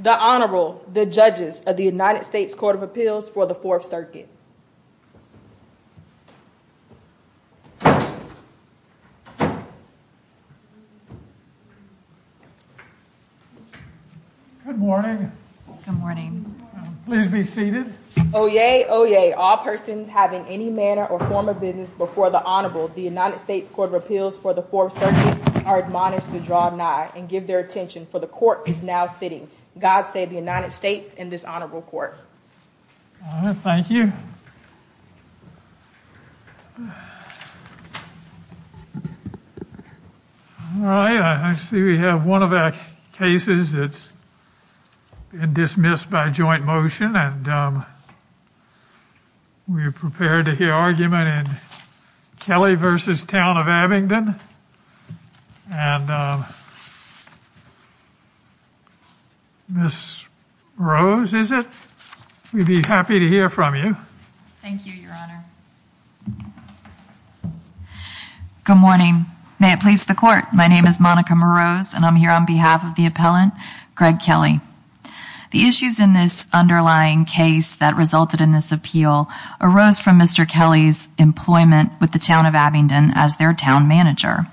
The Honorable, the Judges of the United States Court of Appeals for the Fourth Circuit Good morning. Good morning. Please be seated. Oyez, oyez, all persons having any manner or form of business before the Honorable, the United States Court of Appeals for the Fourth Circuit are admonished to draw nigh and give their attention, for the Court is now sitting. God save the United States and this Honorable Court. Thank you. All right, I see we have one of our cases that's been dismissed by joint motion and we're prepared to hear argument in Kelly v. Town of Abingdon and Ms. Rose, is it? We'd be happy to hear from you. Thank you, Your Honor. Good morning. May it please the Court, my name is Monica Morose and I'm here on behalf of the appellant, Greg Kelly. The issues in this underlying case that resulted in this appeal arose from Mr. Kelly's employment with the Town of Abingdon as their town manager.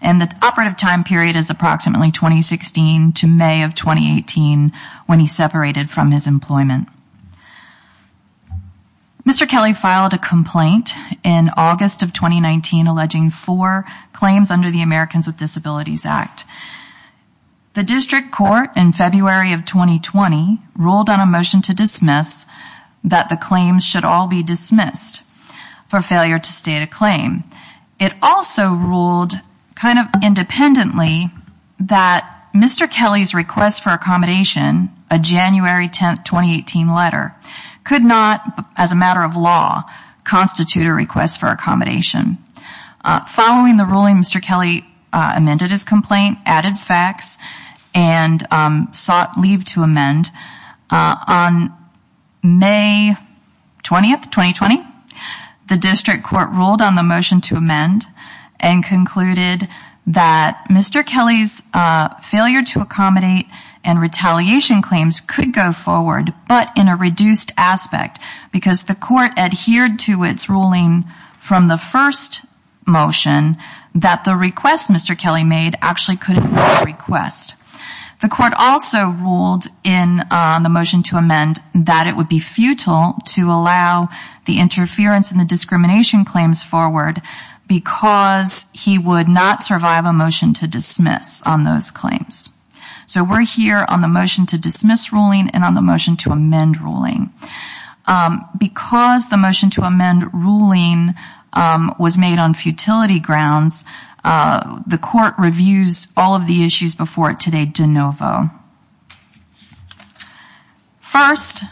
And the operative time period is approximately 2016 to May of 2018 when he separated from his employment. Mr. Kelly filed a complaint in August of 2019 alleging four claims under the Americans with Disabilities Act. The District Court in February of 2020 ruled on a motion to dismiss that the claims should all be dismissed for failure to state a claim. It also ruled kind of independently that Mr. Kelly's request for accommodation, a January 10, 2018 letter, could not, as a matter of law, constitute a request for accommodation. Following the ruling, Mr. Kelly amended his complaint, added facts, and sought leave to amend. On May 20, 2020, the District Court ruled on the motion to amend and concluded that Mr. Kelly's failure to accommodate and retaliation claims could go forward, but in a reduced aspect because the court adhered to its ruling from the first motion that the request Mr. Kelly made actually could have been a request. The court also ruled in the motion to amend that it would be futile to allow the interference and the discrimination claims forward because he would not survive a motion to dismiss on those claims. So we're here on the motion to dismiss ruling and on the motion to amend ruling. Because the motion to amend ruling was made on futility grounds, the court reviews all of the issues before it today de novo. First,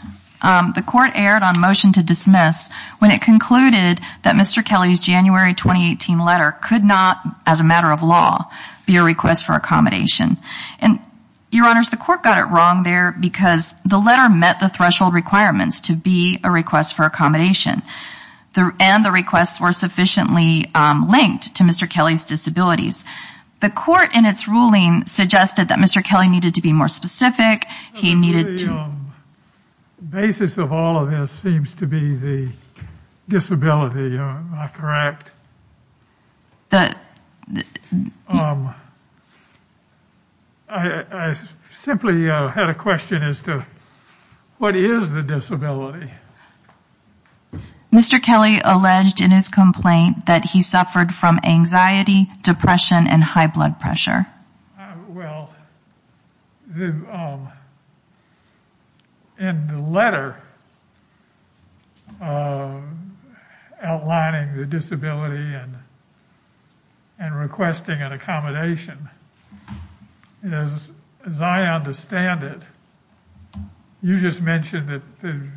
the court erred on motion to dismiss when it concluded that Mr. Kelly's January 2018 letter could not, as a matter of law, be a request for accommodation. And, Your Honors, the court got it wrong there because the letter met the threshold requirements to be a request for accommodation. And the requests were sufficiently linked to Mr. Kelly's disabilities. The court, in its ruling, suggested that Mr. Kelly needed to be more specific. He needed to... The basis of all of this seems to be the disability, am I correct? The... I simply had a question as to what is the disability? Mr. Kelly alleged in his complaint that he suffered from anxiety, depression, and high blood pressure. Well, in the letter outlining the disability and requesting an accommodation, as I understand it, you just mentioned that the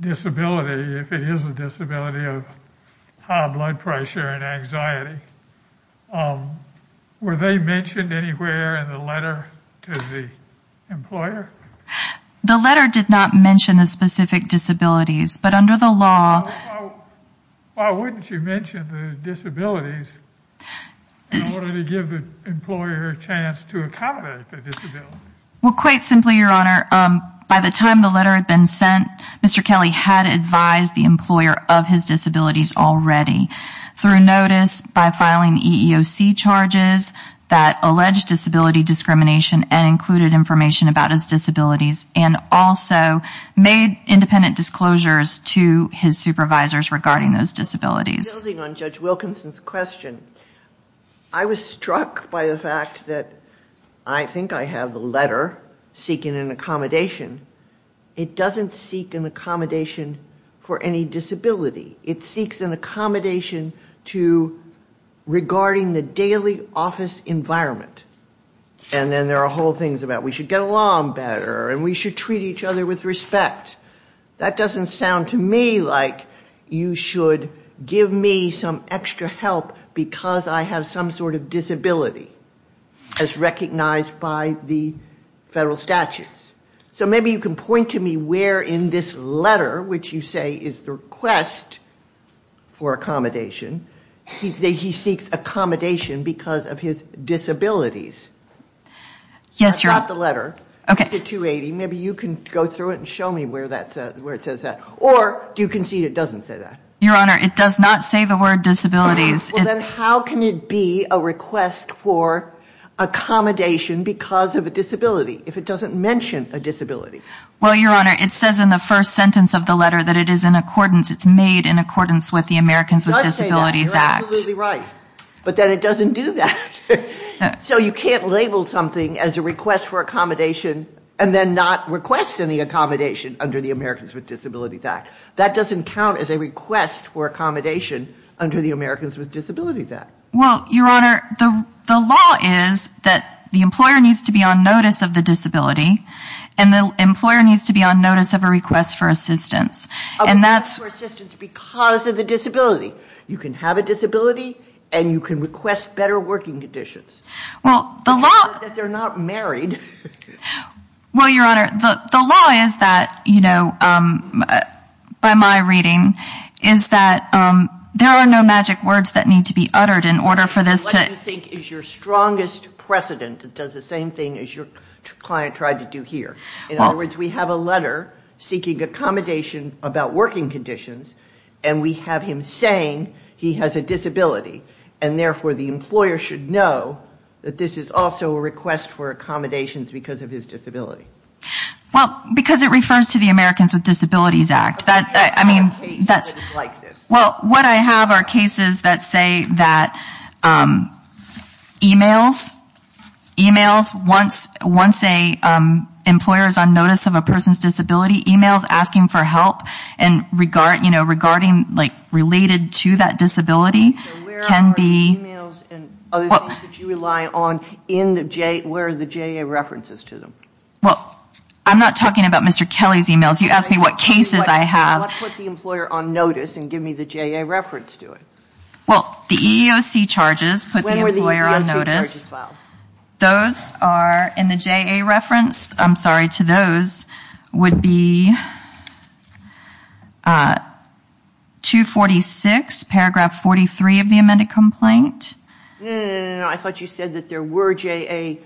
disability, if it is a disability of high blood pressure and anxiety, were they mentioned anywhere in the letter to the employer? The letter did not mention the specific disabilities, but under the law... Why wouldn't you mention the disabilities in order to give the employer a chance to accommodate the disability? Well, quite simply, Your Honor, by the time the letter had been sent, Mr. Kelly had advised the employer of his disabilities already, through notice, by filing EEOC charges that alleged disability discrimination and included information about his disabilities, and also made independent disclosures to his supervisors regarding those disabilities. Building on Judge Wilkinson's question, I was struck by the fact that I think I have the letter seeking an accommodation. It doesn't seek an accommodation for any disability. It seeks an accommodation to regarding the daily office environment, and then there are whole things about we should get along better and we should treat each other with respect. That doesn't sound to me like you should give me some extra help because I have some sort of disability, as recognized by the federal statutes. So maybe you can point to me where in this letter, which you say is the request for accommodation, he seeks accommodation because of his disabilities. Yes, Your Honor. It's not the letter. It's a 280. Maybe you can go through it and show me where it says that. Or do you concede it doesn't say that? Your Honor, it does not say the word disabilities. Well, then how can it be a request for accommodation because of a disability if it doesn't mention a disability? Well, Your Honor, it says in the first sentence of the letter that it is in accordance, it's made in accordance with the Americans with Disabilities Act. It does say that. You're absolutely right. But then it doesn't do that. So you can't label something as a request for accommodation and then not request any accommodation under the Americans with Disabilities Act. That doesn't count as a request for accommodation under the Americans with Disabilities Act. Well, Your Honor, the law is that the employer needs to be on notice of the disability and the employer needs to be on notice of a request for assistance. A request for assistance because of the disability. You can have a disability and you can request better working conditions. Well, the law… Because they're not married. Well, Your Honor, the law is that, you know, by my reading, is that there are no magic words that need to be uttered in order for this to… What do you think is your strongest precedent that does the same thing as your client tried to do here? In other words, we have a letter seeking accommodation about working conditions and we have him saying he has a disability and therefore the employer should know that this is also a request for accommodations because of his disability. Well, because it refers to the Americans with Disabilities Act. I mean, that's… Well, what I have are cases that say that emails, emails once an employer is on notice of a person's disability, emails asking for help and regarding, like, related to that disability can be… So where are emails and other things that you rely on in the… Where are the JEA references to them? Well, I'm not talking about Mr. Kelly's emails. You asked me what cases I have. Let's put the employer on notice and give me the JEA reference to it. Well, the EEOC charges put the employer on notice. When were the EEOC charges filed? Those are in the JEA reference. I'm sorry, to those would be 246, paragraph 43 of the amended complaint. No, no, no, no, no. I thought you said that there were JEA…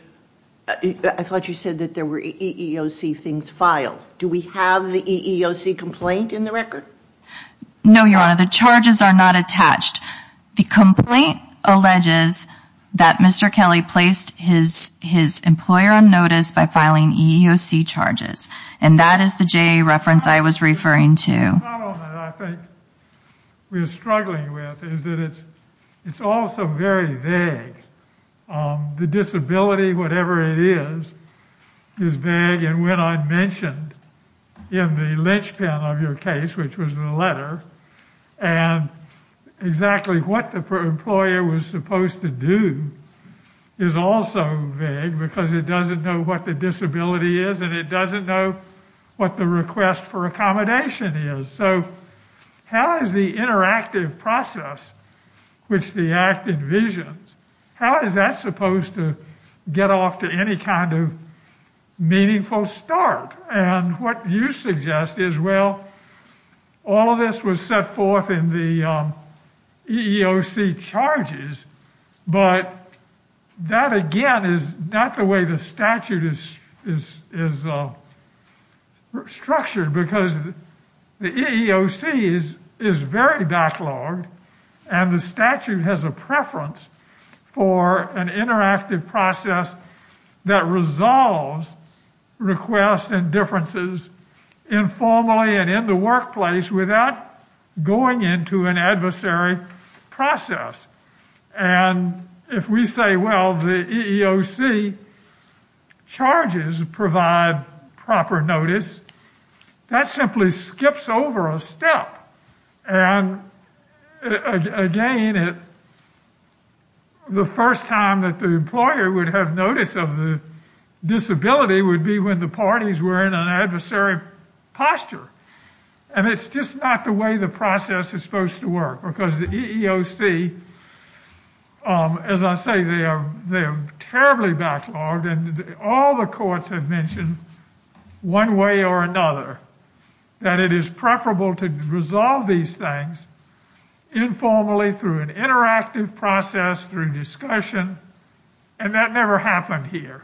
I thought you said that there were EEOC things filed. Do we have the EEOC complaint in the record? No, Your Honor. The charges are not attached. The complaint alleges that Mr. Kelly placed his employer on notice by filing EEOC charges, and that is the JEA reference I was referring to. The problem that I think we are struggling with is that it's also very vague. The disability, whatever it is, is vague, and when I mentioned in the linchpin of your case, which was in the letter, and exactly what the employer was supposed to do is also vague because it doesn't know what the disability is and it doesn't know what the request for accommodation is. So how is the interactive process, which the Act envisions, how is that supposed to get off to any kind of meaningful start? And what you suggest is, well, all of this was set forth in the EEOC charges, but that again is not the way the statute is structured because the EEOC is very backlogged and the statute has a preference for an interactive process that resolves requests and differences informally and in the workplace without going into an adversary process. And if we say, well, the EEOC charges provide proper notice, and again, the first time that the employer would have notice of the disability would be when the parties were in an adversary posture. And it's just not the way the process is supposed to work because the EEOC, as I say, they are terribly backlogged and all the courts have mentioned one way or another that it is preferable to resolve these things informally through an interactive process, through discussion, and that never happened here.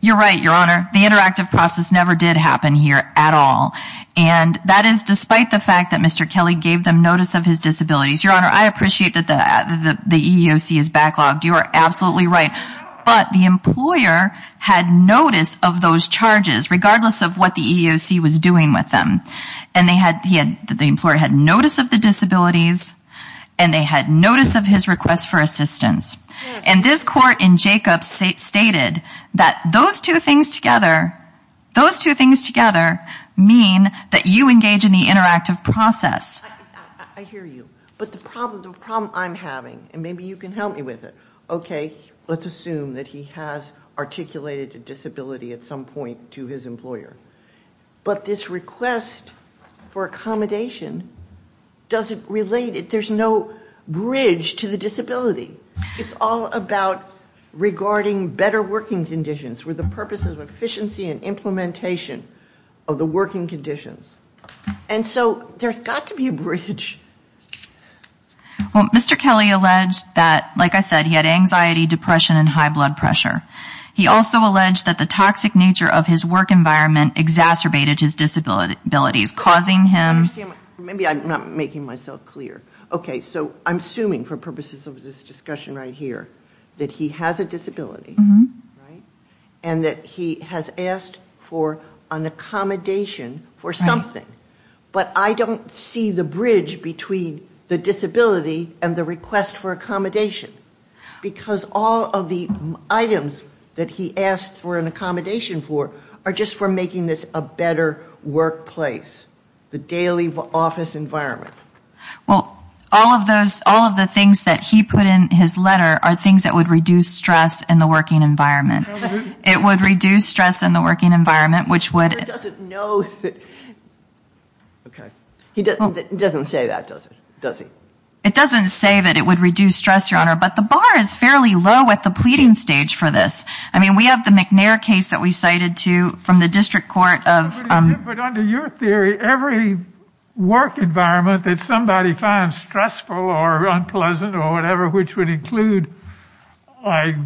You're right, Your Honor. The interactive process never did happen here at all. And that is despite the fact that Mr. Kelly gave them notice of his disabilities. Your Honor, I appreciate that the EEOC is backlogged. You are absolutely right. But the employer had notice of those charges regardless of what the EEOC was doing with them. And the employer had notice of the disabilities and they had notice of his request for assistance. And this court in Jacobs stated that those two things together, those two things together mean that you engage in the interactive process. I hear you. But the problem I'm having, and maybe you can help me with it, okay, let's assume that he has articulated a disability at some point to his employer. But this request for accommodation, does it relate? There's no bridge to the disability. It's all about regarding better working conditions with the purposes of efficiency and implementation of the working conditions. And so there's got to be a bridge. Well, Mr. Kelly alleged that, like I said, he had anxiety, depression, and high blood pressure. He also alleged that the toxic nature of his work environment exacerbated his disabilities, causing him... Maybe I'm not making myself clear. Okay, so I'm assuming for purposes of this discussion right here that he has a disability, right, and that he has asked for an accommodation for something. But I don't see the bridge between the disability and the request for accommodation. Because all of the items that he asked for an accommodation for are just for making this a better workplace, the daily office environment. Well, all of the things that he put in his letter are things that would reduce stress in the working environment. It would reduce stress in the working environment, which would... Okay. He doesn't say that, does he? It doesn't say that it would reduce stress, Your Honor, but the bar is fairly low at the pleading stage for this. I mean, we have the McNair case that we cited too from the district court of... But under your theory, every work environment that somebody finds stressful or unpleasant or whatever, which would include, like,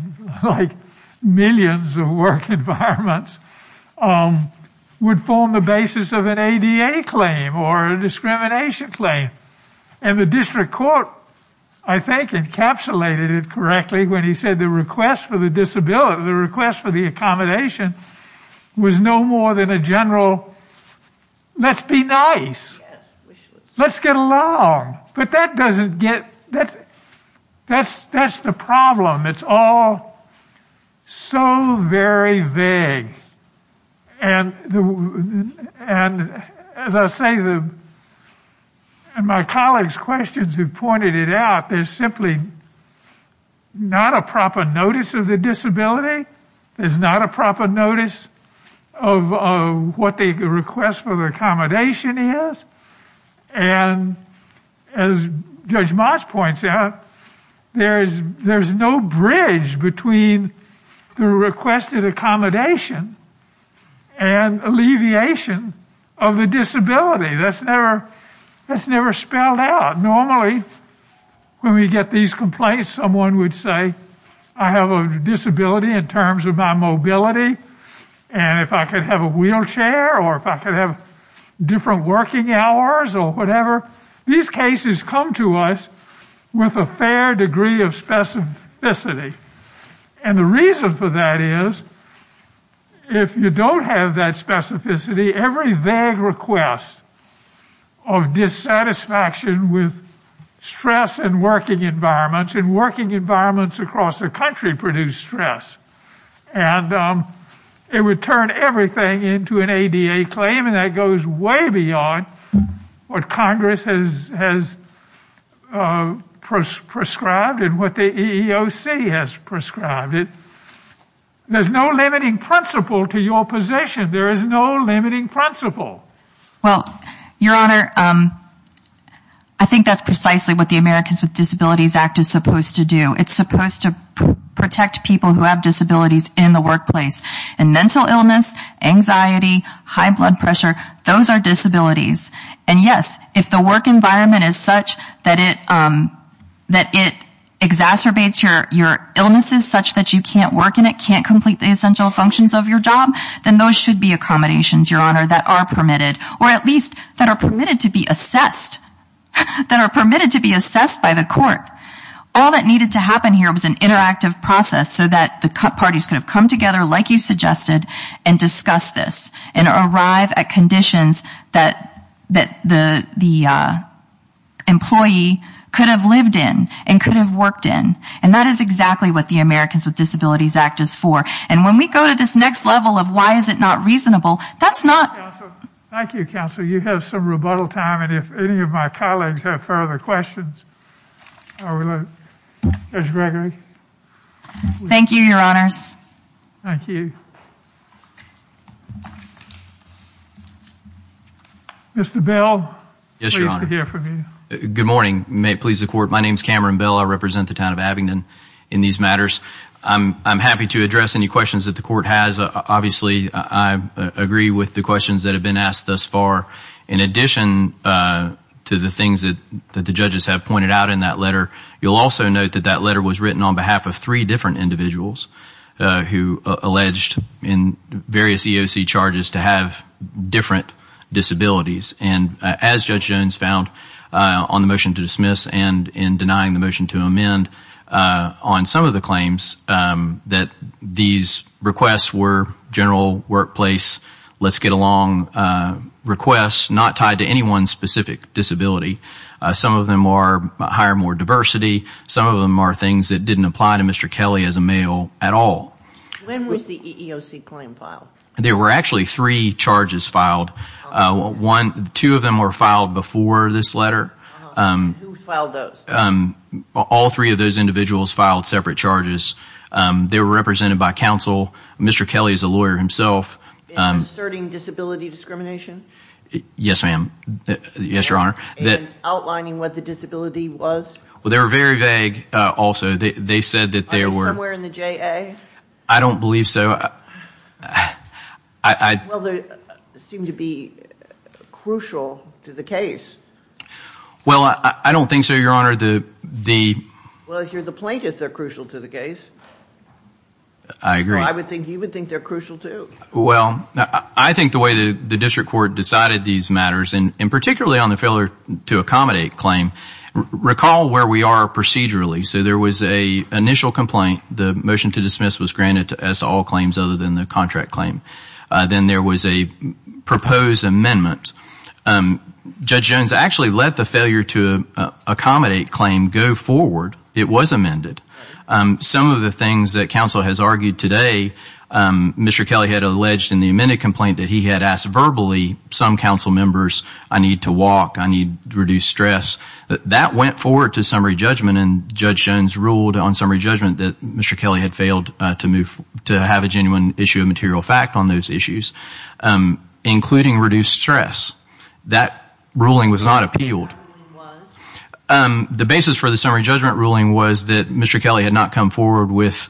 millions of work environments, would form the basis of an ADA claim or a discrimination claim. And the district court, I think, encapsulated it correctly when he said the request for the accommodation was no more than a general, let's be nice, let's get along. But that doesn't get... That's the problem. It's all so very vague. And as I say, and my colleagues' questions have pointed it out, there's simply not a proper notice of the disability. There's not a proper notice of what the request for the accommodation is. And as Judge Mott points out, there's no bridge between the requested accommodation and alleviation of the disability. That's never spelled out. Normally, when we get these complaints, someone would say, I have a disability in terms of my mobility, and if I could have a wheelchair, or if I could have different working hours or whatever. These cases come to us with a fair degree of specificity. And the reason for that is, if you don't have that specificity, every vague request of dissatisfaction with stress and working environments, and working environments across the country produce stress. And it would turn everything into an ADA claim, and that goes way beyond what Congress has prescribed and what the EEOC has prescribed. There's no limiting principle to your position. There is no limiting principle. Well, Your Honor, I think that's precisely what the Americans with Disabilities Act is supposed to do. It's supposed to protect people who have disabilities in the workplace. And mental illness, anxiety, high blood pressure, those are disabilities. And yes, if the work environment is such that it exacerbates your illnesses such that you can't work in it, can't complete the essential functions of your job, then those should be accommodations, Your Honor, that are permitted, or at least that are permitted to be assessed, that are permitted to be assessed by the court. All that needed to happen here was an interactive process so that the parties could have come together like you suggested and discussed this and arrived at conditions that the employee could have lived in and could have worked in. And that is exactly what the Americans with Disabilities Act is for. And when we go to this next level of why is it not reasonable, that's not... Thank you, counsel. You have some rebuttal time, and if any of my colleagues have further questions... Mr. Gregory? Thank you, Your Honors. Thank you. Mr. Bell? Yes, Your Honor. Pleased to hear from you. Good morning. Pleased to court. My name is Cameron Bell. I represent the town of Abingdon in these matters. I'm happy to address any questions that the court has. Obviously, I agree with the questions that have been asked thus far. In addition to the things that the judges have pointed out in that letter, you'll also note that that letter was written on behalf of three different individuals who alleged in various EOC charges to have different disabilities. And as Judge Jones found on the motion to dismiss and in denying the motion to amend on some of the claims, that these requests were general workplace, let's get along requests not tied to anyone's specific disability. Some of them are hire more diversity. Some of them are things that didn't apply to Mr. Kelly as a male at all. When was the EEOC claim filed? There were actually three charges filed. Two of them were filed before this letter. Who filed those? All three of those individuals filed separate charges. They were represented by counsel. Mr. Kelly is a lawyer himself. In asserting disability discrimination? Yes, ma'am. Yes, Your Honor. In outlining what the disability was? Well, they were very vague also. They said that they were— Are they somewhere in the JA? I don't believe so. Well, they seem to be crucial to the case. Well, I don't think so, Your Honor. Well, if you're the plaintiff, they're crucial to the case. I agree. I would think you would think they're crucial too. Well, I think the way the district court decided these matters, and particularly on the failure to accommodate claim, recall where we are procedurally. So there was an initial complaint. The motion to dismiss was granted as to all claims other than the contract claim. Then there was a proposed amendment. Judge Jones actually let the failure to accommodate claim go forward. It was amended. Some of the things that counsel has argued today, Mr. Kelly had alleged in the amended complaint that he had asked verbally, some council members, I need to walk, I need to reduce stress. That went forward to summary judgment, and Judge Jones ruled on summary judgment that Mr. Kelly had failed to have a genuine issue of material fact on those issues, including reduced stress. That ruling was not appealed. The basis for the summary judgment ruling was that Mr. Kelly had not come forward with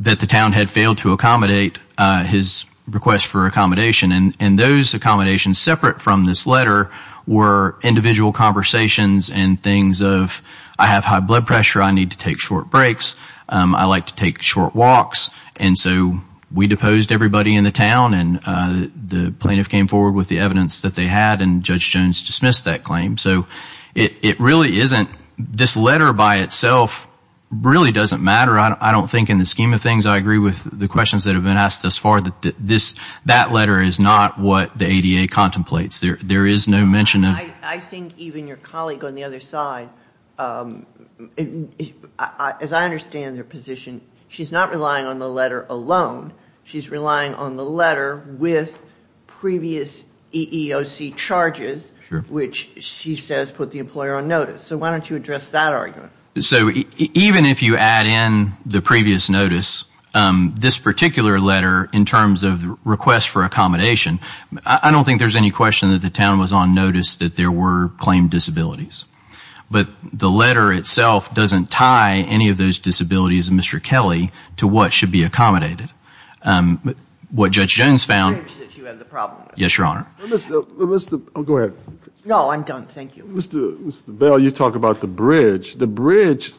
that the town had failed to accommodate his request for accommodation, and those accommodations separate from this letter were individual conversations and things of I have high blood pressure, I need to take short breaks, I like to take short walks. And so we deposed everybody in the town, and the plaintiff came forward with the evidence that they had, and Judge Jones dismissed that claim. So it really isn't this letter by itself really doesn't matter. I don't think in the scheme of things I agree with the questions that have been asked thus far that that letter is not what the ADA contemplates. There is no mention of it. I think even your colleague on the other side, as I understand her position, she's not relying on the letter alone. She's relying on the letter with previous EEOC charges, which she says put the employer on notice. So why don't you address that argument? So even if you add in the previous notice, this particular letter in terms of the request for accommodation, I don't think there's any question that the town was on notice that there were claimed disabilities. But the letter itself doesn't tie any of those disabilities, Mr. Kelly, to what should be accommodated. What Judge Jones found. Yes, Your Honor. Go ahead. No, I'm done. Thank you. Mr. Bell, you talk about the bridge. The bridge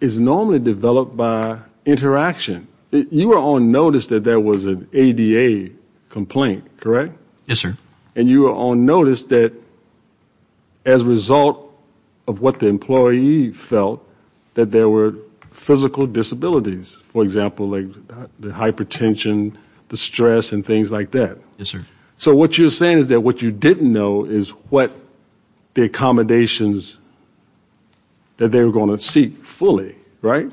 is normally developed by interaction. You were on notice that there was an ADA complaint, correct? Yes, sir. And you were on notice that as a result of what the employee felt that there were physical disabilities, for example, like the hypertension, the stress and things like that. Yes, sir. So what you're saying is that what you didn't know is what the accommodations that they were going to seek fully, right?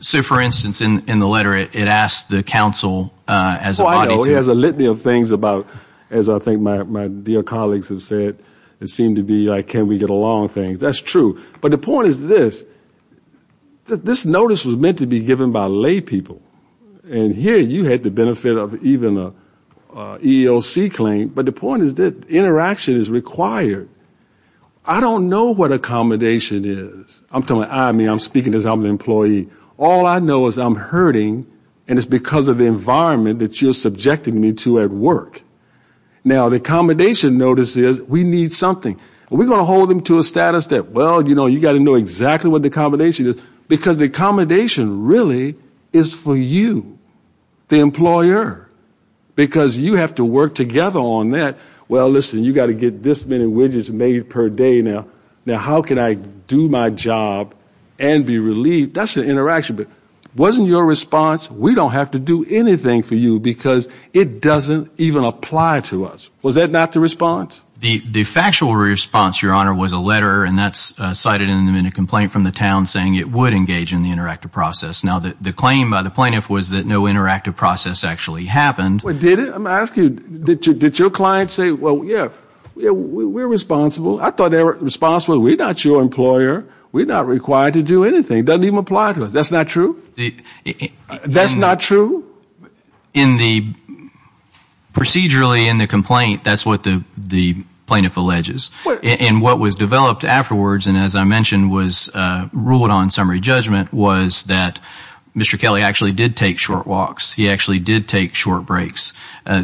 So, for instance, in the letter it asks the council as a body to. Well, it has a litany of things about, as I think my dear colleagues have said, it seemed to be like can we get along things. That's true. But the point is this. This notice was meant to be given by lay people. And here you had the benefit of even an EEOC claim. But the point is that interaction is required. I don't know what accommodation is. I'm speaking as an employee. All I know is I'm hurting and it's because of the environment that you're subjecting me to at work. Now, the accommodation notice is we need something. We're going to hold them to a status that, well, you know, you've got to know exactly what the accommodation is because the accommodation really is for you, the employer, because you have to work together on that. Well, listen, you've got to get this many widgets made per day now. Now, how can I do my job and be relieved? That's an interaction. But wasn't your response we don't have to do anything for you because it doesn't even apply to us? Was that not the response? The factual response, Your Honor, was a letter, and that's cited in a complaint from the town saying it would engage in the interactive process. Now, the claim by the plaintiff was that no interactive process actually happened. Did it? I'm asking you, did your client say, well, yeah, we're responsible? I thought they were responsible. We're not your employer. We're not required to do anything. It doesn't even apply to us. That's not true? That's not true? Procedurally in the complaint, that's what the plaintiff alleges. And what was developed afterwards, and as I mentioned, was ruled on summary judgment, was that Mr. Kelly actually did take short walks. He actually did take short breaks.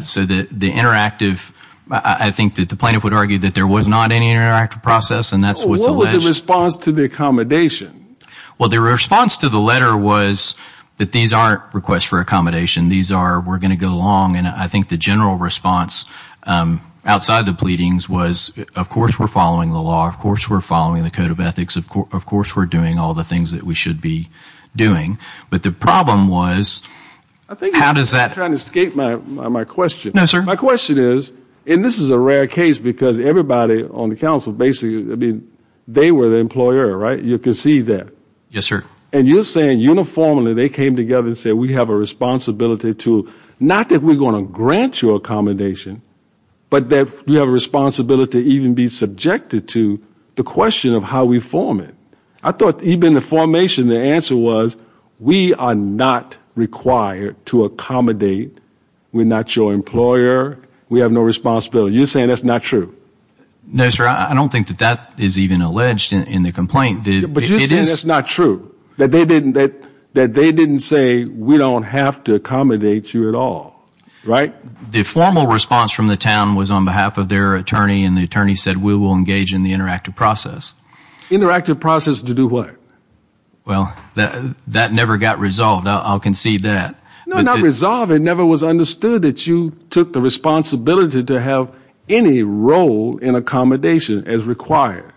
So the interactive, I think that the plaintiff would argue that there was not any interactive process, and that's what's alleged. What was the response to the accommodation? Well, the response to the letter was that these aren't requests for accommodation. These are we're going to go along. And I think the general response outside the pleadings was, of course, we're following the law. Of course, we're following the code of ethics. Of course, we're doing all the things that we should be doing. But the problem was how does that ---- I think you're trying to escape my question. No, sir. My question is, and this is a rare case because everybody on the council basically, I mean, they were the employer, right? You can see that. Yes, sir. And you're saying uniformly they came together and said we have a responsibility to not that we're going to grant you accommodation, but that we have a responsibility to even be subjected to the question of how we form it. I thought even the formation, the answer was we are not required to accommodate. We're not your employer. We have no responsibility. You're saying that's not true? No, sir. I don't think that that is even alleged in the complaint. But you're saying that's not true? That they didn't say we don't have to accommodate you at all, right? The formal response from the town was on behalf of their attorney, and the attorney said we will engage in the interactive process. Interactive process to do what? Well, that never got resolved. I'll concede that. No, not resolved. It never was understood that you took the responsibility to have any role in accommodation as required.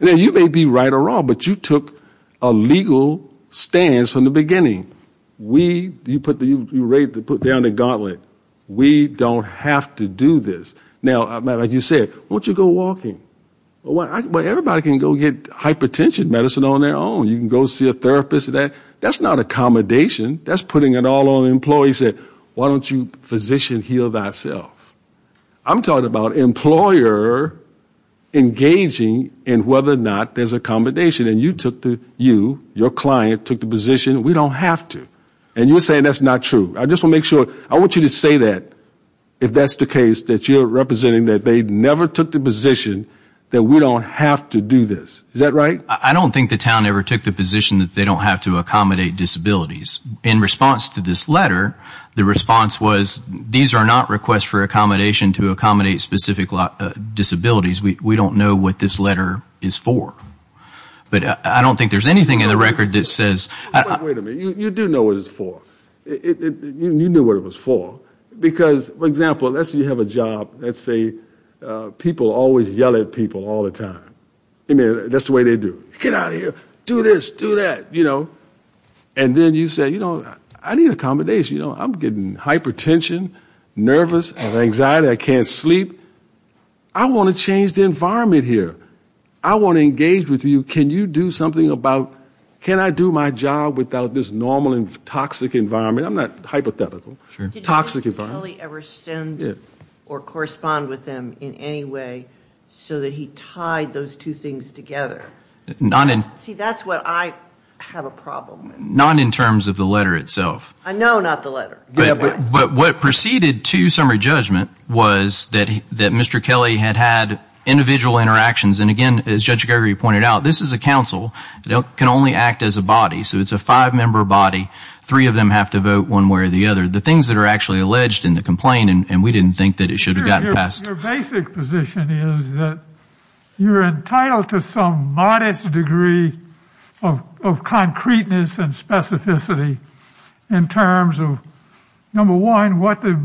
You may be right or wrong, but you took a legal stance from the beginning. You put down the gauntlet. We don't have to do this. Now, like you said, why don't you go walking? Everybody can go get hypertension medicine on their own. You can go see a therapist. That's not accommodation. That's putting it all on employees. Why don't you physician heal thyself? I'm talking about employer engaging in whether or not there's accommodation, and you, your client, took the position we don't have to. And you're saying that's not true. I just want to make sure. I want you to say that if that's the case, that you're representing that they never took the position that we don't have to do this. Is that right? I don't think the town ever took the position that they don't have to accommodate disabilities. In response to this letter, the response was, these are not requests for accommodation to accommodate specific disabilities. We don't know what this letter is for. But I don't think there's anything in the record that says. Wait a minute. You do know what it's for. You knew what it was for. Because, for example, let's say you have a job. Let's say people always yell at people all the time. That's the way they do it. Get out of here. Do this. Do that. And then you say, you know, I need accommodation. I'm getting hypertension, nervous, I have anxiety, I can't sleep. I want to change the environment here. I want to engage with you. Can you do something about, can I do my job without this normal and toxic environment? I'm not hypothetical. Toxic environment. Did Mr. Kelly ever send or correspond with them in any way so that he tied those two things together? See, that's what I have a problem with. Not in terms of the letter itself. No, not the letter. But what proceeded to summary judgment was that Mr. Kelly had had individual interactions. And, again, as Judge Gregory pointed out, this is a council. It can only act as a body. So it's a five-member body. Three of them have to vote one way or the other. The things that are actually alleged in the complaint, and we didn't think that it should have gotten passed. Your basic position is that you're entitled to some modest degree of concreteness and specificity in terms of, number one, what the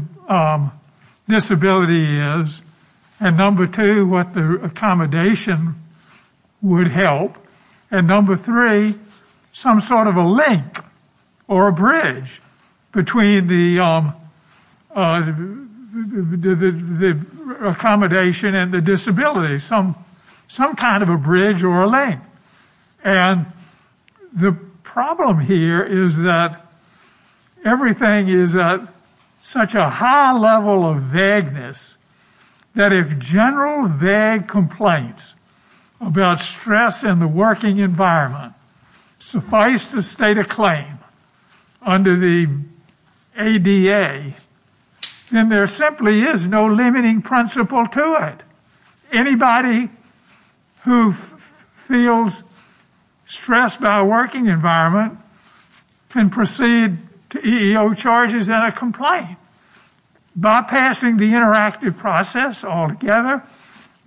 disability is, and, number two, what the accommodation would help, and, number three, some sort of a link or a bridge between the accommodation and the disability, some kind of a bridge or a link. And the problem here is that everything is at such a high level of vagueness that if general vague complaints about stress in the working environment suffice to state a claim under the ADA, then there simply is no limiting principle to it. Anybody who feels stressed by a working environment can proceed to EEO charges and a complaint. Bypassing the interactive process altogether,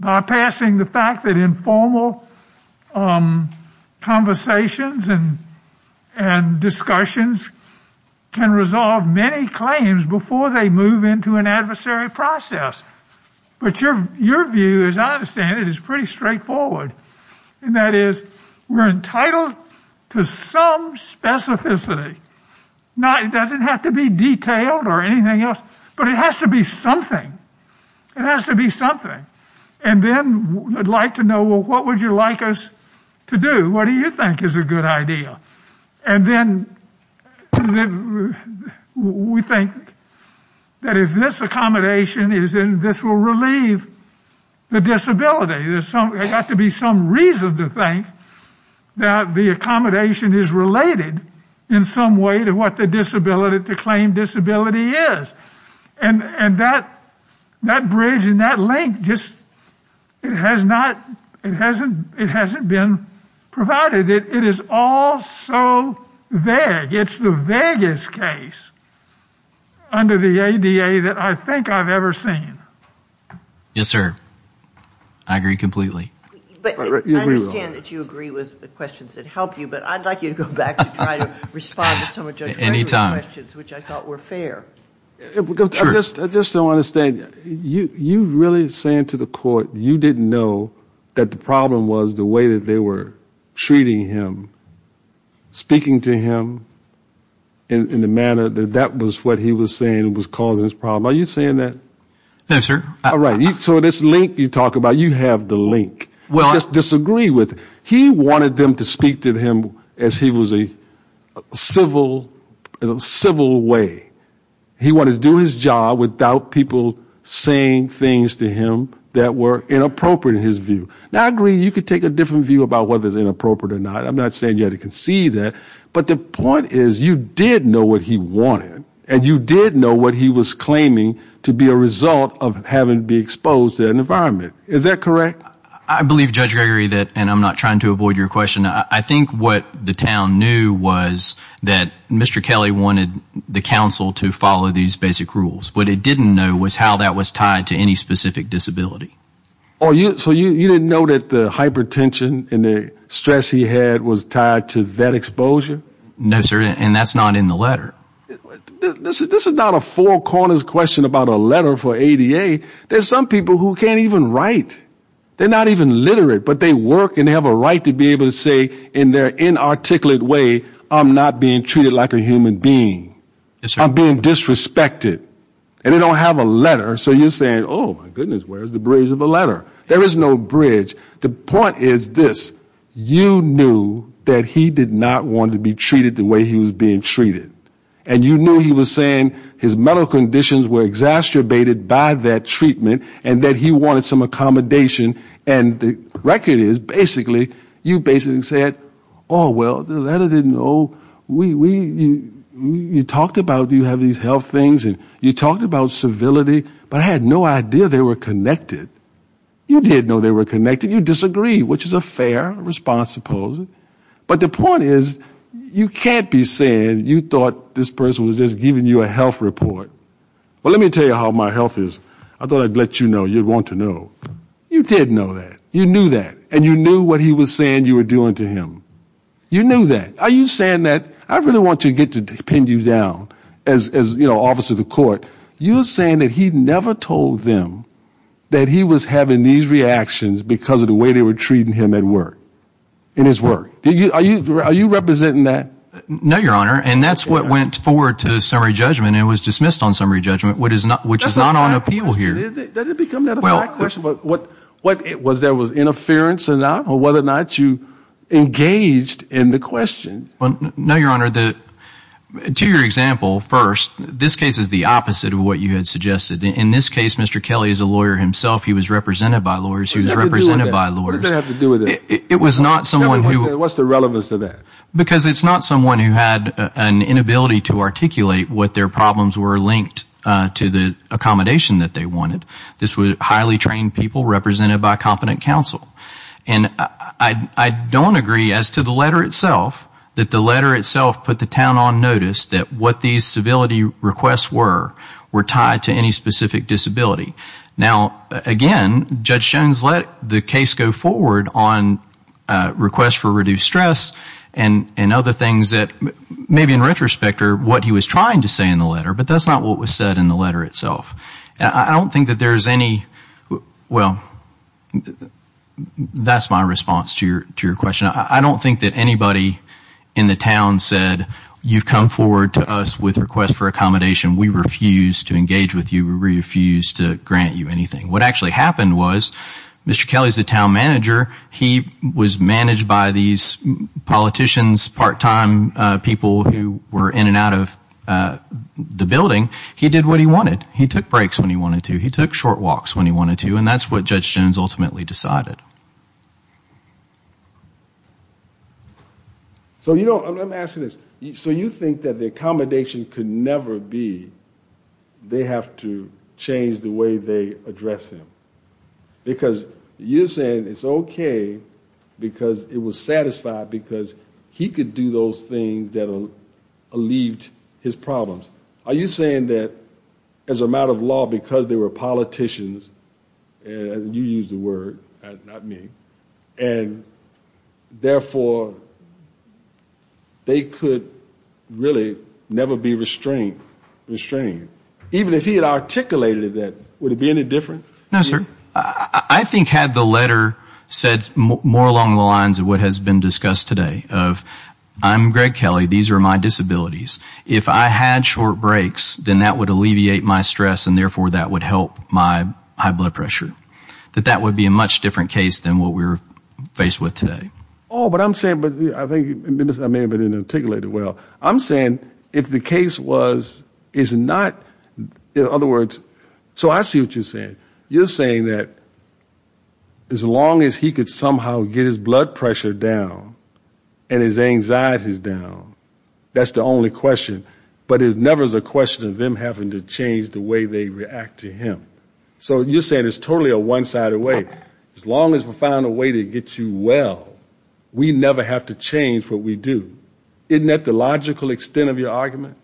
bypassing the fact that informal conversations and discussions can resolve many claims before they move into an adversary process. But your view, as I understand it, is pretty straightforward, and that is we're entitled to some specificity. It doesn't have to be detailed or anything else, but it has to be something. It has to be something. And then I'd like to know, well, what would you like us to do? What do you think is a good idea? And then we think that if this accommodation is in, this will relieve the disability. There's got to be some reason to think that the accommodation is related in some way to what the claim disability is. And that bridge and that link just hasn't been provided. It is all so vague. It's the vaguest case under the ADA that I think I've ever seen. Yes, sir. I agree completely. I understand that you agree with the questions that help you, but I'd like you to go back and try to respond to some of Judge Gregory's questions, which I thought were fair. I just don't understand. You really saying to the court you didn't know that the problem was the way that they were treating him, speaking to him in the manner that that was what he was saying was causing his problem. Are you saying that? Yes, sir. All right. So this link you talk about, you have the link. I disagree with it. He wanted them to speak to him as he was a civil way. He wanted to do his job without people saying things to him that were inappropriate in his view. Now, I agree you could take a different view about whether it's inappropriate or not. I'm not saying you had to concede that. But the point is you did know what he wanted, and you did know what he was Is that correct? I believe, Judge Gregory, and I'm not trying to avoid your question, I think what the town knew was that Mr. Kelly wanted the council to follow these basic rules. What it didn't know was how that was tied to any specific disability. So you didn't know that the hypertension and the stress he had was tied to that No, sir, and that's not in the letter. This is not a four corners question about a letter for ADA. There's some people who can't even write. They're not even literate, but they work and they have a right to be able to say in their inarticulate way, I'm not being treated like a human being. I'm being disrespected. And they don't have a letter. So you're saying, oh, my goodness, where's the bridge of a letter? There is no bridge. The point is this, you knew that he did not want to be treated the way he was being treated. And you knew he was saying his medical conditions were exacerbated by that treatment, and that he wanted some accommodation, and the record is, basically, you basically said, oh, well, the letter didn't know, you talked about you have these health things and you talked about civility, but I had no idea they were connected. You didn't know they were connected. You disagreed, which is a fair response, I suppose. But the point is, you can't be saying you thought this person was just giving you a health report. Well, let me tell you how my health is. I thought I'd let you know, you'd want to know. You did know that. You knew that. And you knew what he was saying you were doing to him. You knew that. Are you saying that, I really want to get to pin you down as, you know, officer of the court, you're saying that he never told them that he was having these reactions because of the way they were treating him at work? In his work? Are you representing that? No, Your Honor, and that's what went forward to summary judgment and was dismissed on summary judgment, which is not on appeal here. Did it become that a fact question? Was there was interference or not, or whether or not you engaged in the question? No, Your Honor. To your example, first, this case is the opposite of what you had suggested. In this case, Mr. Kelly is a lawyer himself. He was represented by lawyers. What does that have to do with it? What's the relevance of that? Because it's not someone who had an inability to articulate what their problems were linked to the accommodation that they wanted. This was highly trained people represented by competent counsel. And I don't agree as to the letter itself, that the letter itself put the town on notice that what these civility requests were, were tied to any specific disability. Now, again, Judge Jones let the case go forward on requests for reduced stress and other things that maybe in retrospect are what he was trying to say in the letter, but that's not what was said in the letter itself. That's my response to your question. I don't think that anybody in the town said you've come forward to us with requests for accommodation. We refuse to engage with you. We refuse to grant you anything. What actually happened was Mr. Kelly is the town manager. He was managed by these politicians, part-time people who were in and out of the building. He did what he wanted. He took breaks when he wanted to. He took short walks when he wanted to, and that's what Judge Jones ultimately decided. So, you know, let me ask you this. So you think that the accommodation could never be they have to change the way they address him? Because you're saying it's okay because it was satisfied because he could do those things that alleviated his problems. Are you saying that as a matter of law, because they were politicians, and you used the word, not me, and therefore they could really never be restrained? Even if he had articulated that, would it be any different? No, sir. I think had the letter said more along the lines of what has been discussed today, of I'm Greg Kelly, these are my disabilities. If I had short breaks, then that would alleviate my stress and therefore that would help my high blood pressure. That that would be a much different case than what we're faced with today. Oh, but I'm saying, I may have not articulated it well. I'm saying if the case was, is not, in other words, so I see what you're saying. You're saying that as long as he could somehow get his blood pressure down and his anxieties down, that's the only question, but it never is a question of them having to change the way they react to him. So you're saying it's totally a one-sided way. As long as we find a way to get you well, we never have to change what we do. Isn't that the logical extent of your argument?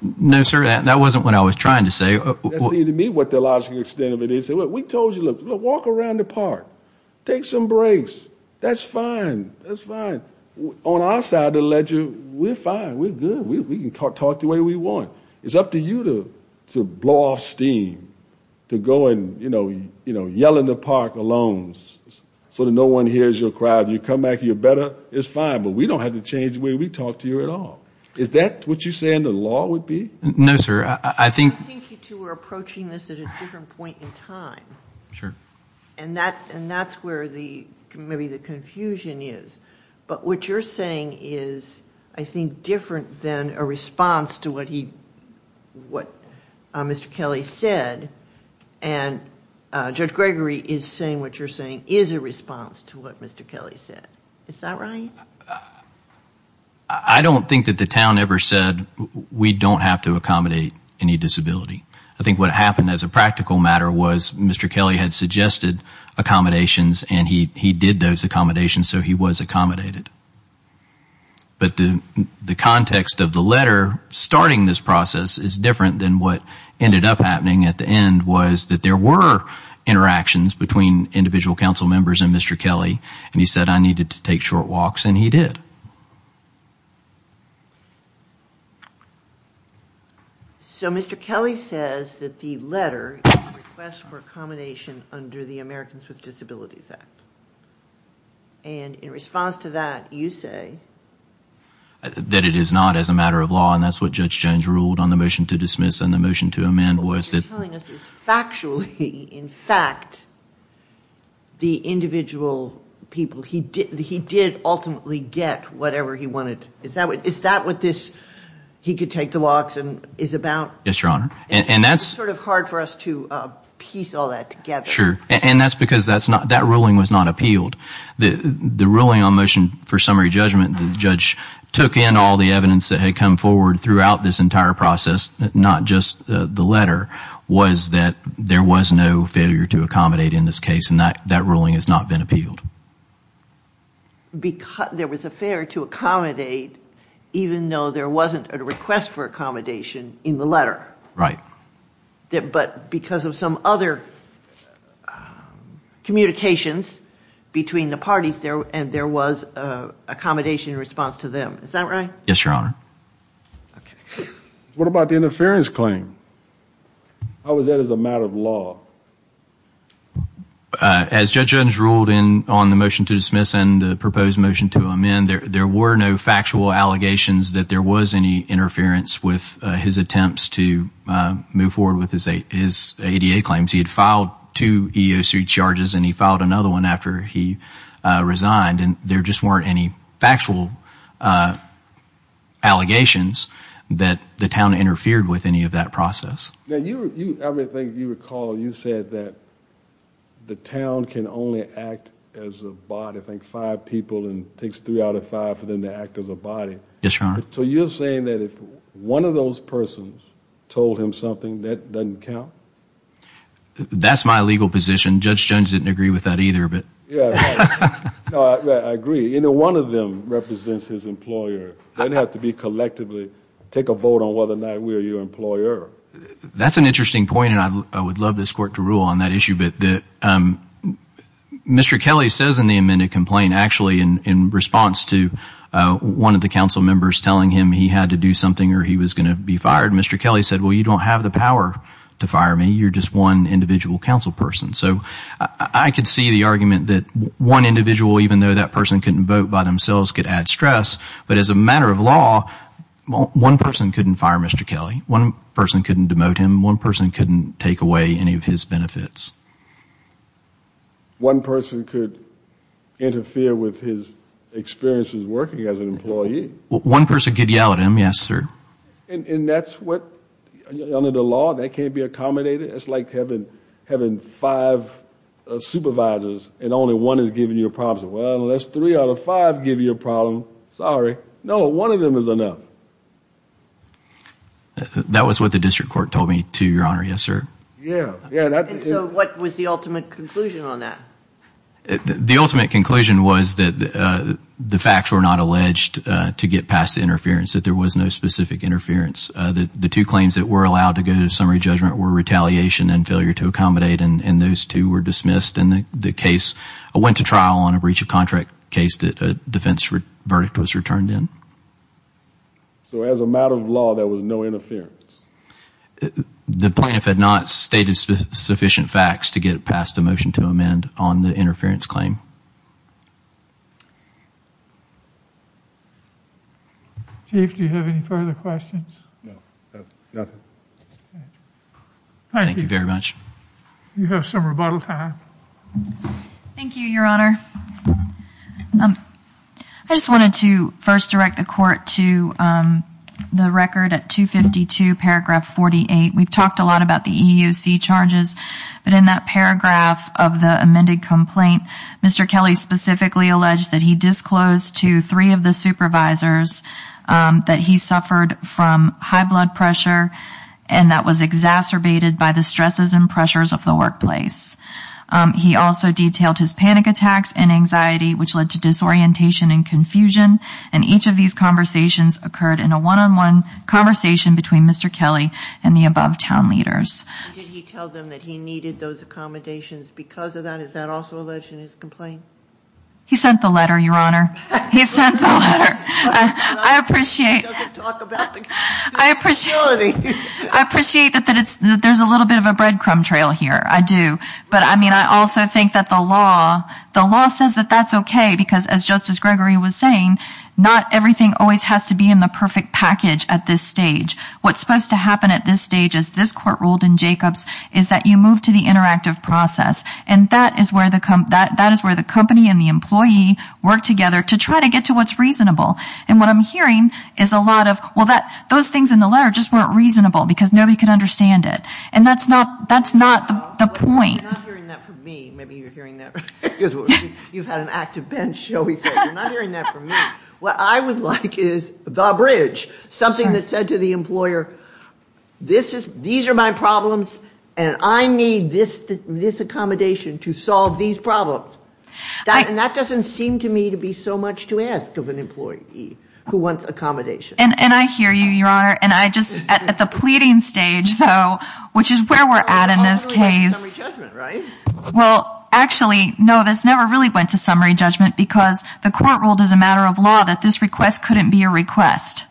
No, sir, that wasn't what I was trying to say. That seemed to me what the logical extent of it is. We told you, look, walk around the park. Take some breaks. That's fine. That's fine. On our side of the ledger, we're fine. We're good. We can talk the way we want. It's up to you to blow off steam, to go and, you know, yell in the park alone so that no one hears your cry. You come back, you're better, it's fine. But we don't have to change the way we talk to you at all. Is that what you're saying the law would be? No, sir. I think you two are approaching this at a different point in time. And that's where maybe the confusion is. But what you're saying is, I think, different than a response to what Mr. Kelly said. And Judge Gregory is saying what you're saying is a response to what Mr. Kelly said. Is that right? I don't think that the town ever said we don't have to accommodate any disability. I think what happened as a practical matter was Mr. Kelly had suggested accommodations, and he did those accommodations, so he was accommodated. But the context of the letter starting this process is different than what ended up happening at the end was that there were interactions between individual council members and Mr. Kelly, and he said I needed to take short walks, and he did. So Mr. Kelly says that the letter is a request for accommodation under the Americans with Disabilities Act. And in response to that, you say... That it is not as a matter of law, and that's what Judge Jones ruled on the motion to dismiss and the motion to amend was that... What he's telling us is factually, in fact, the individual people, he did ultimately get whatever he wanted. Is that what this he could take the walks is about? Yes, Your Honor. It's sort of hard for us to piece all that together. Sure. And that's because that ruling was not appealed. The ruling on motion for summary judgment, the judge took in all the evidence that had come forward throughout this entire process, not just the letter, was that there was no failure to accommodate in this case, and that ruling has not been appealed. There was a failure to accommodate even though there wasn't a request for accommodation in the letter. Right. But because of some other communications between the parties, and there was accommodation in response to them. Is that right? Yes, Your Honor. What about the interference claim? How was that as a matter of law? As Judge Jones ruled on the motion to dismiss and the proposed motion to amend, there were no factual allegations that there was any interference with his attempts to move forward with his ADA claims. He had filed two EEOC charges, and he filed another one after he resigned, and there just weren't any factual allegations that the town interfered with any of that process. Now, I may think you recall you said that the town can only act as a body, I think five people, and it takes three out of five for them to act as a body. Yes, Your Honor. So you're saying that if one of those persons told him something, that doesn't count? That's my legal position. Judge Jones didn't agree with that either. I agree. One of them represents his employer. It doesn't have to be collectively. Take a vote on whether or not we are your employer. That's an interesting point, and I would love this Court to rule on that issue. Mr. Kelly says in the amended complaint, actually in response to one of the council members telling him he had to do something or he was going to be fired, Mr. Kelly said, well, you don't have the power to fire me. You're just one individual council person. So I can see the argument that one individual, even though that person couldn't vote by themselves, could add stress, but as a matter of law, one person couldn't fire Mr. Kelly. One person couldn't demote him. One person couldn't take away any of his benefits. One person could interfere with his experiences working as an employee? One person could yell at him, yes, sir. And that's what, under the law, that can't be accommodated? It's like having five supervisors and only one is giving you a problem. Well, let's three out of five give you a problem. Sorry. No, one of them is enough. That was what the district court told me, to your honor, yes, sir. And so what was the ultimate conclusion on that? The ultimate conclusion was that the facts were not alleged to get past the interference, that there was no specific interference. The two claims that were allowed to go to summary judgment were retaliation and failure to accommodate, and those two were dismissed. And the case went to trial on a breach of contract case that a defense verdict was returned in. So as a matter of law, there was no interference? The plaintiff had not stated sufficient facts to get past the motion to amend on the interference claim. Chief, do you have any further questions? No, nothing. Thank you very much. You have some rebuttal time. Thank you, your honor. I just wanted to first direct the court to the record at 252 paragraph 48. We've talked a lot about the EEOC charges, but in that paragraph of the amended complaint, Mr. Kelly specifically alleged that he disclosed to the public that he suffered from high blood pressure and that was exacerbated by the stresses and pressures of the workplace. He also detailed his panic attacks and anxiety, which led to disorientation and confusion. And each of these conversations occurred in a one-on-one conversation between Mr. Kelly and the above town leaders. Did he tell them that he needed those accommodations because of that? Is that also alleged in his complaint? He sent the letter, your honor. He sent the letter. I appreciate that there's a little bit of a breadcrumb trail here. I do. But, I mean, I also think that the law says that that's okay because, as Justice Gregory was saying, not everything always has to be in the perfect package at this stage. What's supposed to happen at this stage, as this court ruled in Jacobs, is that you move to the interactive process. And that is where the company and the employee work together to try to get to what's reasonable. And what I'm hearing is a lot of, well, those things in the letter just weren't reasonable because nobody could understand it. And that's not the point. You're not hearing that from me. Maybe you're hearing that because you've had an active bench, shall we say. You're not hearing that from me. What I would like is the bridge, something that said to the employer, these are my problems and I need this accommodation to solve these problems. And that doesn't seem to me to be so much to ask of an employee who wants accommodation. And I hear you, your honor. And I just, at the pleading stage, though, which is where we're at in this case. Well, actually, no, this never really went to summary judgment because the court ruled as a matter of law that this request couldn't be a request.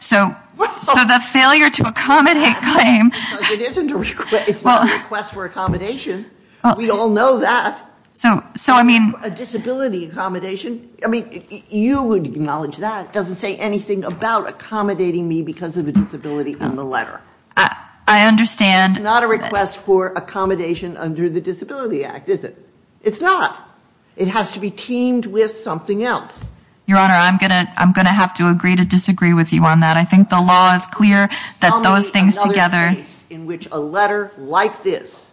So the failure to accommodate claim. It's not a request for accommodation. We all know that. A disability accommodation. You would acknowledge that. It doesn't say anything about accommodating me because of a disability on the letter. It's not a request for accommodation under the Disability Act, is it? It's not. It has to be teamed with something else. Your honor, I'm going to have to agree to disagree with you on that. I think the law is clear that those things together. Tell me another case in which a letter like this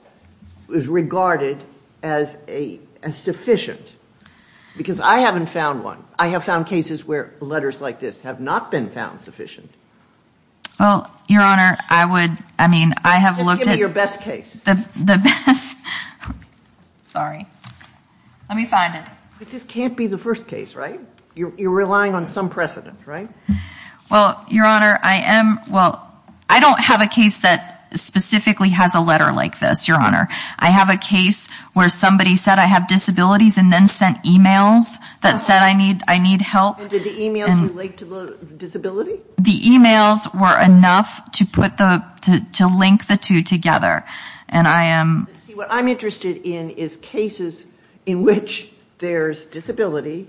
is regarded as sufficient. Because I haven't found one. I have found cases where letters like this have not been found sufficient. Well, your honor, I would, I mean, I have looked at. Just give me your best case. Sorry. Let me find it. This can't be the first case, right? You're relying on some precedent, right? Well, your honor, I am, well, I don't have a case that specifically has a letter like this, your honor. I have a case where somebody said I have disabilities and then sent emails that said I need help. And did the emails relate to the disability? The emails were enough to put the, to link the two together. And I am. See, what I'm interested in is cases in which there's disability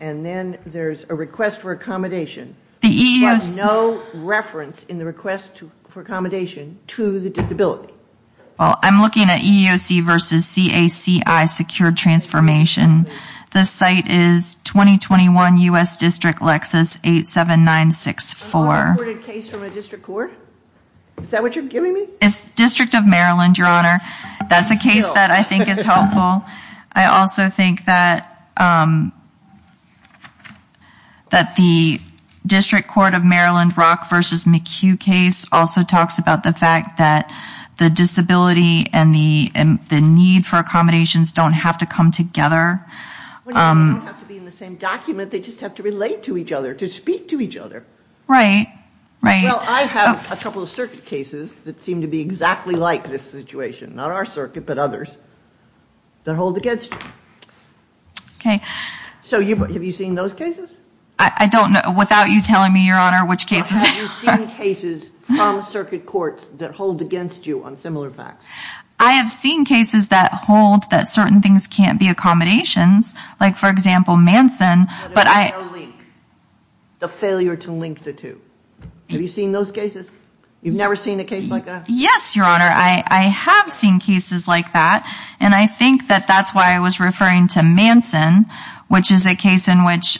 and then there's a request for accommodation. The EEOC. But no reference in the request for accommodation to the disability. Well, I'm looking at EEOC versus CACI secured transformation. The site is 2021 U.S. District Lexus 87964. Is that what you're giving me? It's district of Maryland, your honor. That's a case that I think is helpful. I also think that. That the district court of Maryland rock versus McHugh case also talks about the fact that the disability and the, the need for accommodations don't have to come together. They don't have to be in the same document. They just have to relate to each other to speak to each other. Right. Right. Well, I have a couple of circuit cases that seem to be exactly like this situation, not our circuit, but others. That hold against you. Okay. So you, have you seen those cases? I don't know without you telling me your honor, which cases. Have you seen cases from circuit courts that hold against you on similar facts? I have seen cases that hold that certain things can't be accommodations. Like for example, Manson, but I. The failure to link the two. Have you seen those cases? You've never seen a case like that? Yes, your honor. I have seen cases like that. And I think that that's why I was referring to Manson, which is a case in which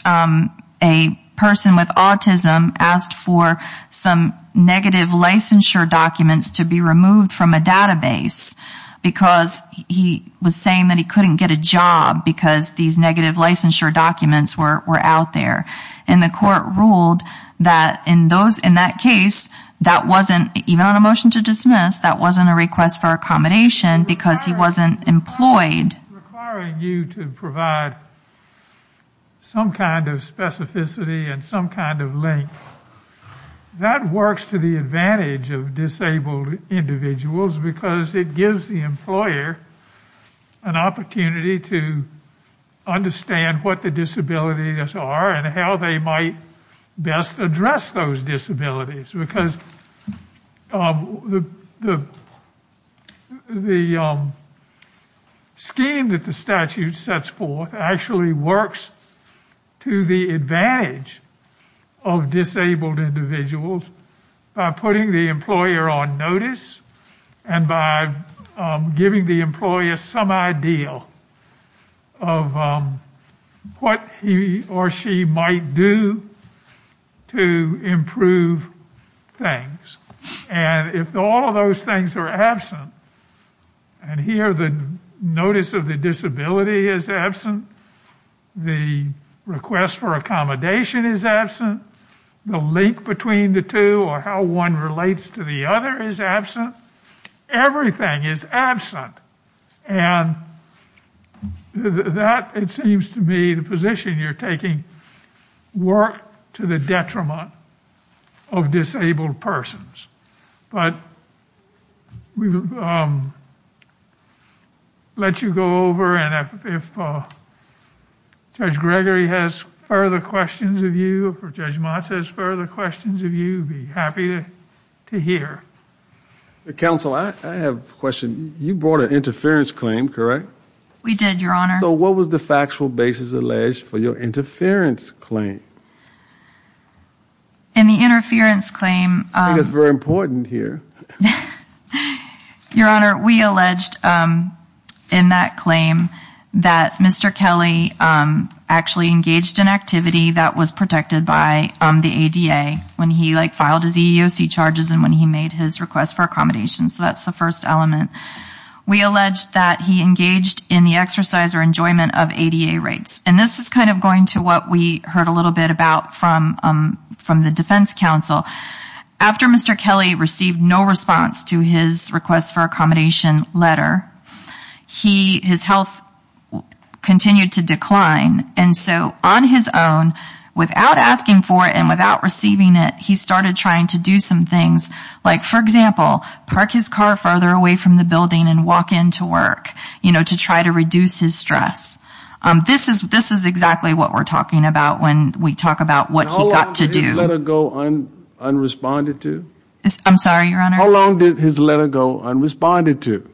a person with autism asked for some negative licensure documents to be removed from a database because he was saying that he couldn't get a job because these negative licensure documents were out there. And the court ruled that in those, in that case, that wasn't even on a motion to dismiss, that wasn't a request for accommodation because he wasn't employed. Requiring you to provide some kind of specificity and some kind of link. That works to the advantage of disabled individuals because it gives the employer an opportunity to understand what the disabilities are and how they might best address those disabilities. Because the scheme that the statute sets for actually works to the advantage of disabled individuals by putting the employer on notice and by giving the employer some idea of what he or she might do to improve things. And if all of those things are absent, and here the notice of the disability is absent, the request for accommodation is absent, the link between the two or how one relates to the other is absent, everything is absent. And that, it seems to me, the position you're taking worked to the detriment of disabled persons. But we will let you go over and if Judge Gregory has further questions of you or Judge Mott has further questions of you, we'd be happy to hear. Counsel, I have a question. You brought an interference claim, correct? We did, Your Honor. So what was the factual basis alleged for your interference claim? In the interference claim. I think it's very important here. Your Honor, we alleged in that claim that Mr. Kelly actually engaged in activity that was protected by the ADA when he filed his EEOC charges and when he made his request for accommodation. So that's the first element. We alleged that he engaged in the exercise or enjoyment of ADA rights. And this is kind of going to what we heard a little bit about from the defense counsel. After Mr. Kelly received no response to his request for accommodation letter, his health continued to decline. And so on his own, without asking for it and without receiving it, he started trying to do some things like, for example, park his car farther away from the building and walk into work to try to reduce his stress. This is exactly what we're talking about when we talk about what he got to do. How long did his letter go unresponded to? I'm sorry, Your Honor? How long did his letter go unresponded to?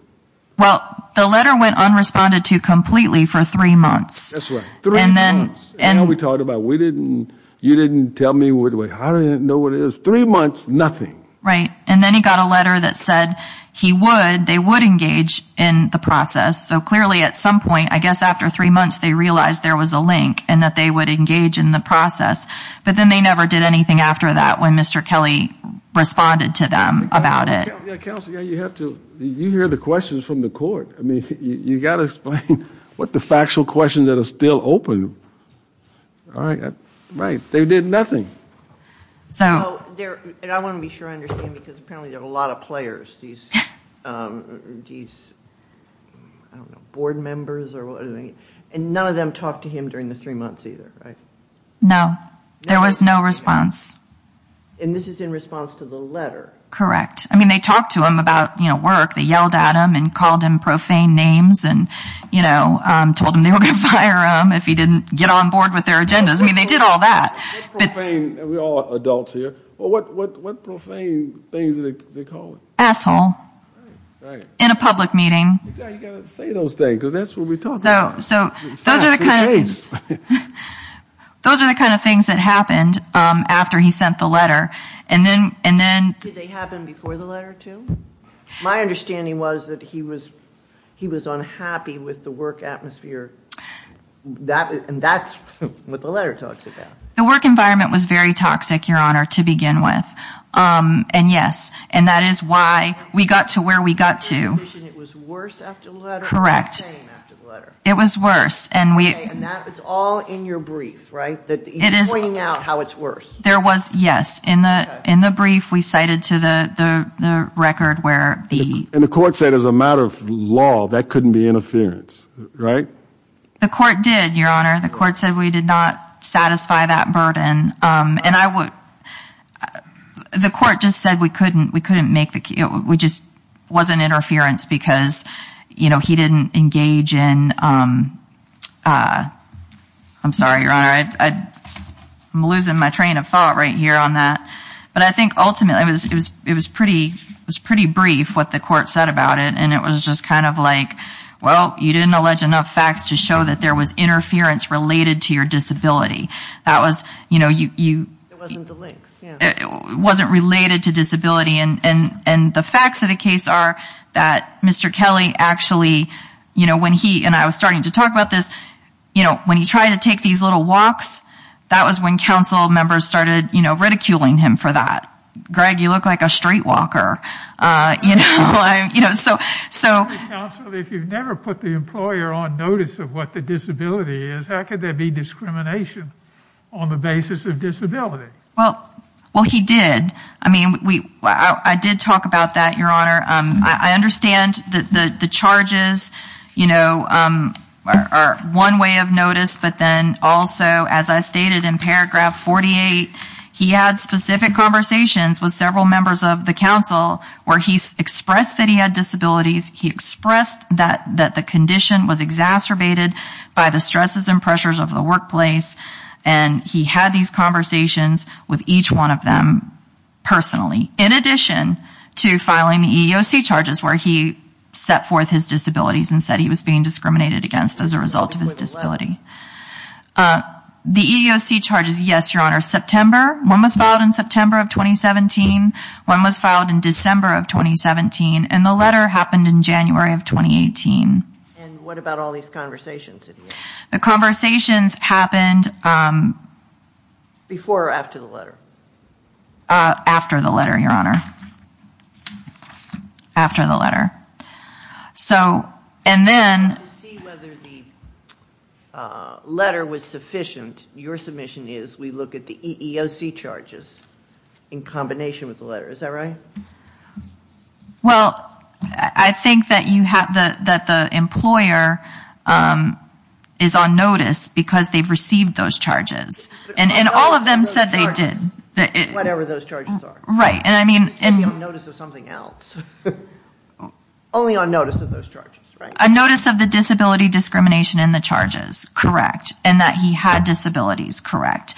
Well, the letter went unresponded to completely for three months. That's right, three months. And then we talked about, you didn't tell me, I didn't know what it is. Three months, nothing. Right. And then he got a letter that said he would, they would engage in the process. So clearly at some point, I guess after three months, they realized there was a link and that they would engage in the process. But then they never did anything after that when Mr. Kelly responded to them about it. Counsel, you have to, you hear the questions from the court. I mean, you've got to explain what the factual questions that are still open. Right. They did nothing. And I want to be sure I understand because apparently there are a lot of players. These, I don't know, board members or whatever. And none of them talked to him during the three months either, right? No. There was no response. And this is in response to the letter. Correct. I mean, they talked to him about, you know, work. They yelled at him and called him profane names and, you know, told him they were going to fire him if he didn't get on board with their agendas. I mean, they did all that. We're all adults here. What profane things did they call him? Asshole. Right, right. In a public meeting. You've got to say those things because that's what we're talking about. So those are the kind of things that happened after he sent the letter. Did they happen before the letter, too? My understanding was that he was unhappy with the work atmosphere. And that's what the letter talks about. The work environment was very toxic, Your Honor, to begin with. And, yes, and that is why we got to where we got to. It was worse after the letter? Correct. It was worse. And that was all in your brief, right? You're pointing out how it's worse. Yes. In the brief we cited to the record where the ---- And the court said as a matter of law that couldn't be interference, right? The court did, Your Honor. The court said we did not satisfy that burden. And I would ---- The court just said we couldn't make the ---- It just wasn't interference because, you know, he didn't engage in ---- I'm sorry, Your Honor. I'm losing my train of thought right here on that. But I think ultimately it was pretty brief what the court said about it. And it was just kind of like, well, you didn't allege enough facts to show that there was interference related to your disability. That was, you know, you ---- It wasn't the link. It wasn't related to disability. And the facts of the case are that Mr. Kelly actually, you know, when he ---- and I was starting to talk about this. You know, when he tried to take these little walks, that was when council members started, you know, ridiculing him for that. Greg, you look like a street walker. You know, so ---- Counsel, if you've never put the employer on notice of what the disability is, how could there be discrimination on the basis of disability? Well, he did. I mean, I did talk about that, Your Honor. I understand that the charges, you know, are one way of notice. But then also, as I stated in paragraph 48, he had specific conversations with several members of the council where he expressed that he had disabilities. He expressed that the condition was exacerbated by the stresses and pressures of the workplace. And he had these conversations with each one of them personally, in addition to filing the EEOC charges where he set forth his disabilities and said he was being discriminated against as a result of his disability. The EEOC charges, yes, Your Honor. September, one was filed in September of 2017. One was filed in December of 2017. And the letter happened in January of 2018. And what about all these conversations? The conversations happened ---- Before or after the letter? After the letter, Your Honor. After the letter. So, and then ---- To see whether the letter was sufficient, your submission is we look at the EEOC charges in combination with the letter. Is that right? Well, I think that the employer is on notice because they've received those charges. And all of them said they did. Whatever those charges are. Right, and I mean ---- Only on notice of something else. Only on notice of those charges, right? A notice of the disability discrimination in the charges, correct, and that he had disabilities, correct.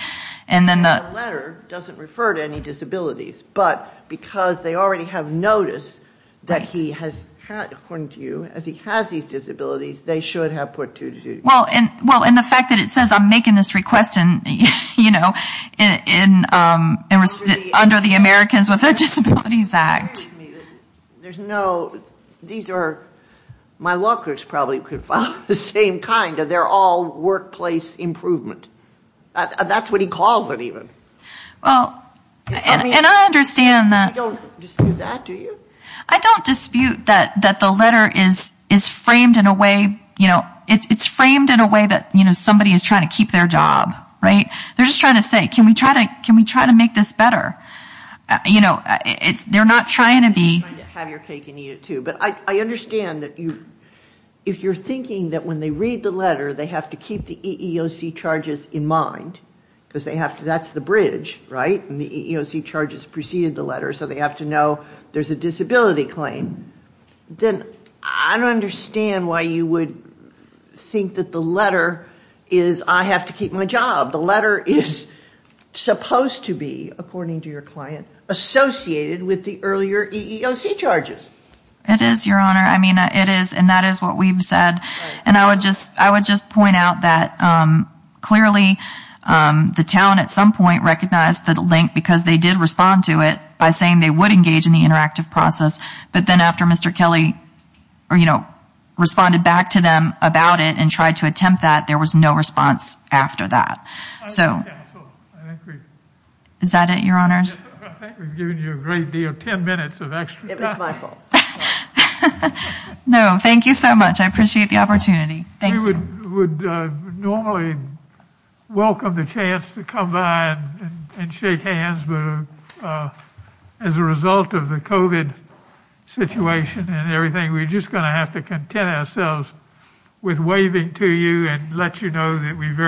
And then the letter doesn't refer to any disabilities, but because they already have notice that he has, according to you, as he has these disabilities, they should have put two to two. Well, and the fact that it says I'm making this request, you know, under the Americans with Disabilities Act. There's no, these are, my law clerks probably could file the same kind. They're all workplace improvement. That's what he calls it even. Well, and I understand that ---- You don't dispute that, do you? I don't dispute that the letter is framed in a way, you know, it's framed in a way that, you know, somebody is trying to keep their job, right? They're just trying to say, can we try to make this better? You know, they're not trying to be ---- Have your cake and eat it, too. But I understand that if you're thinking that when they read the letter, they have to keep the EEOC charges in mind, because that's the bridge, right? And the EEOC charges precede the letter, so they have to know there's a disability claim. Then I don't understand why you would think that the letter is I have to keep my job. The letter is supposed to be, according to your client, associated with the earlier EEOC charges. It is, Your Honor. I mean, it is, and that is what we've said. And I would just point out that clearly the town at some point recognized the link because they did respond to it by saying they would engage in the interactive process. But then after Mr. Kelly, you know, responded back to them about it and tried to attempt that, there was no response after that. So is that it, Your Honors? I think we've given you a great deal, 10 minutes of extra time. It was my fault. No, thank you so much. I appreciate the opportunity. Thank you. We would normally welcome the chance to come by and shake hands, but as a result of the COVID situation and everything, we're just going to have to content ourselves with waving to you and let you know that we very...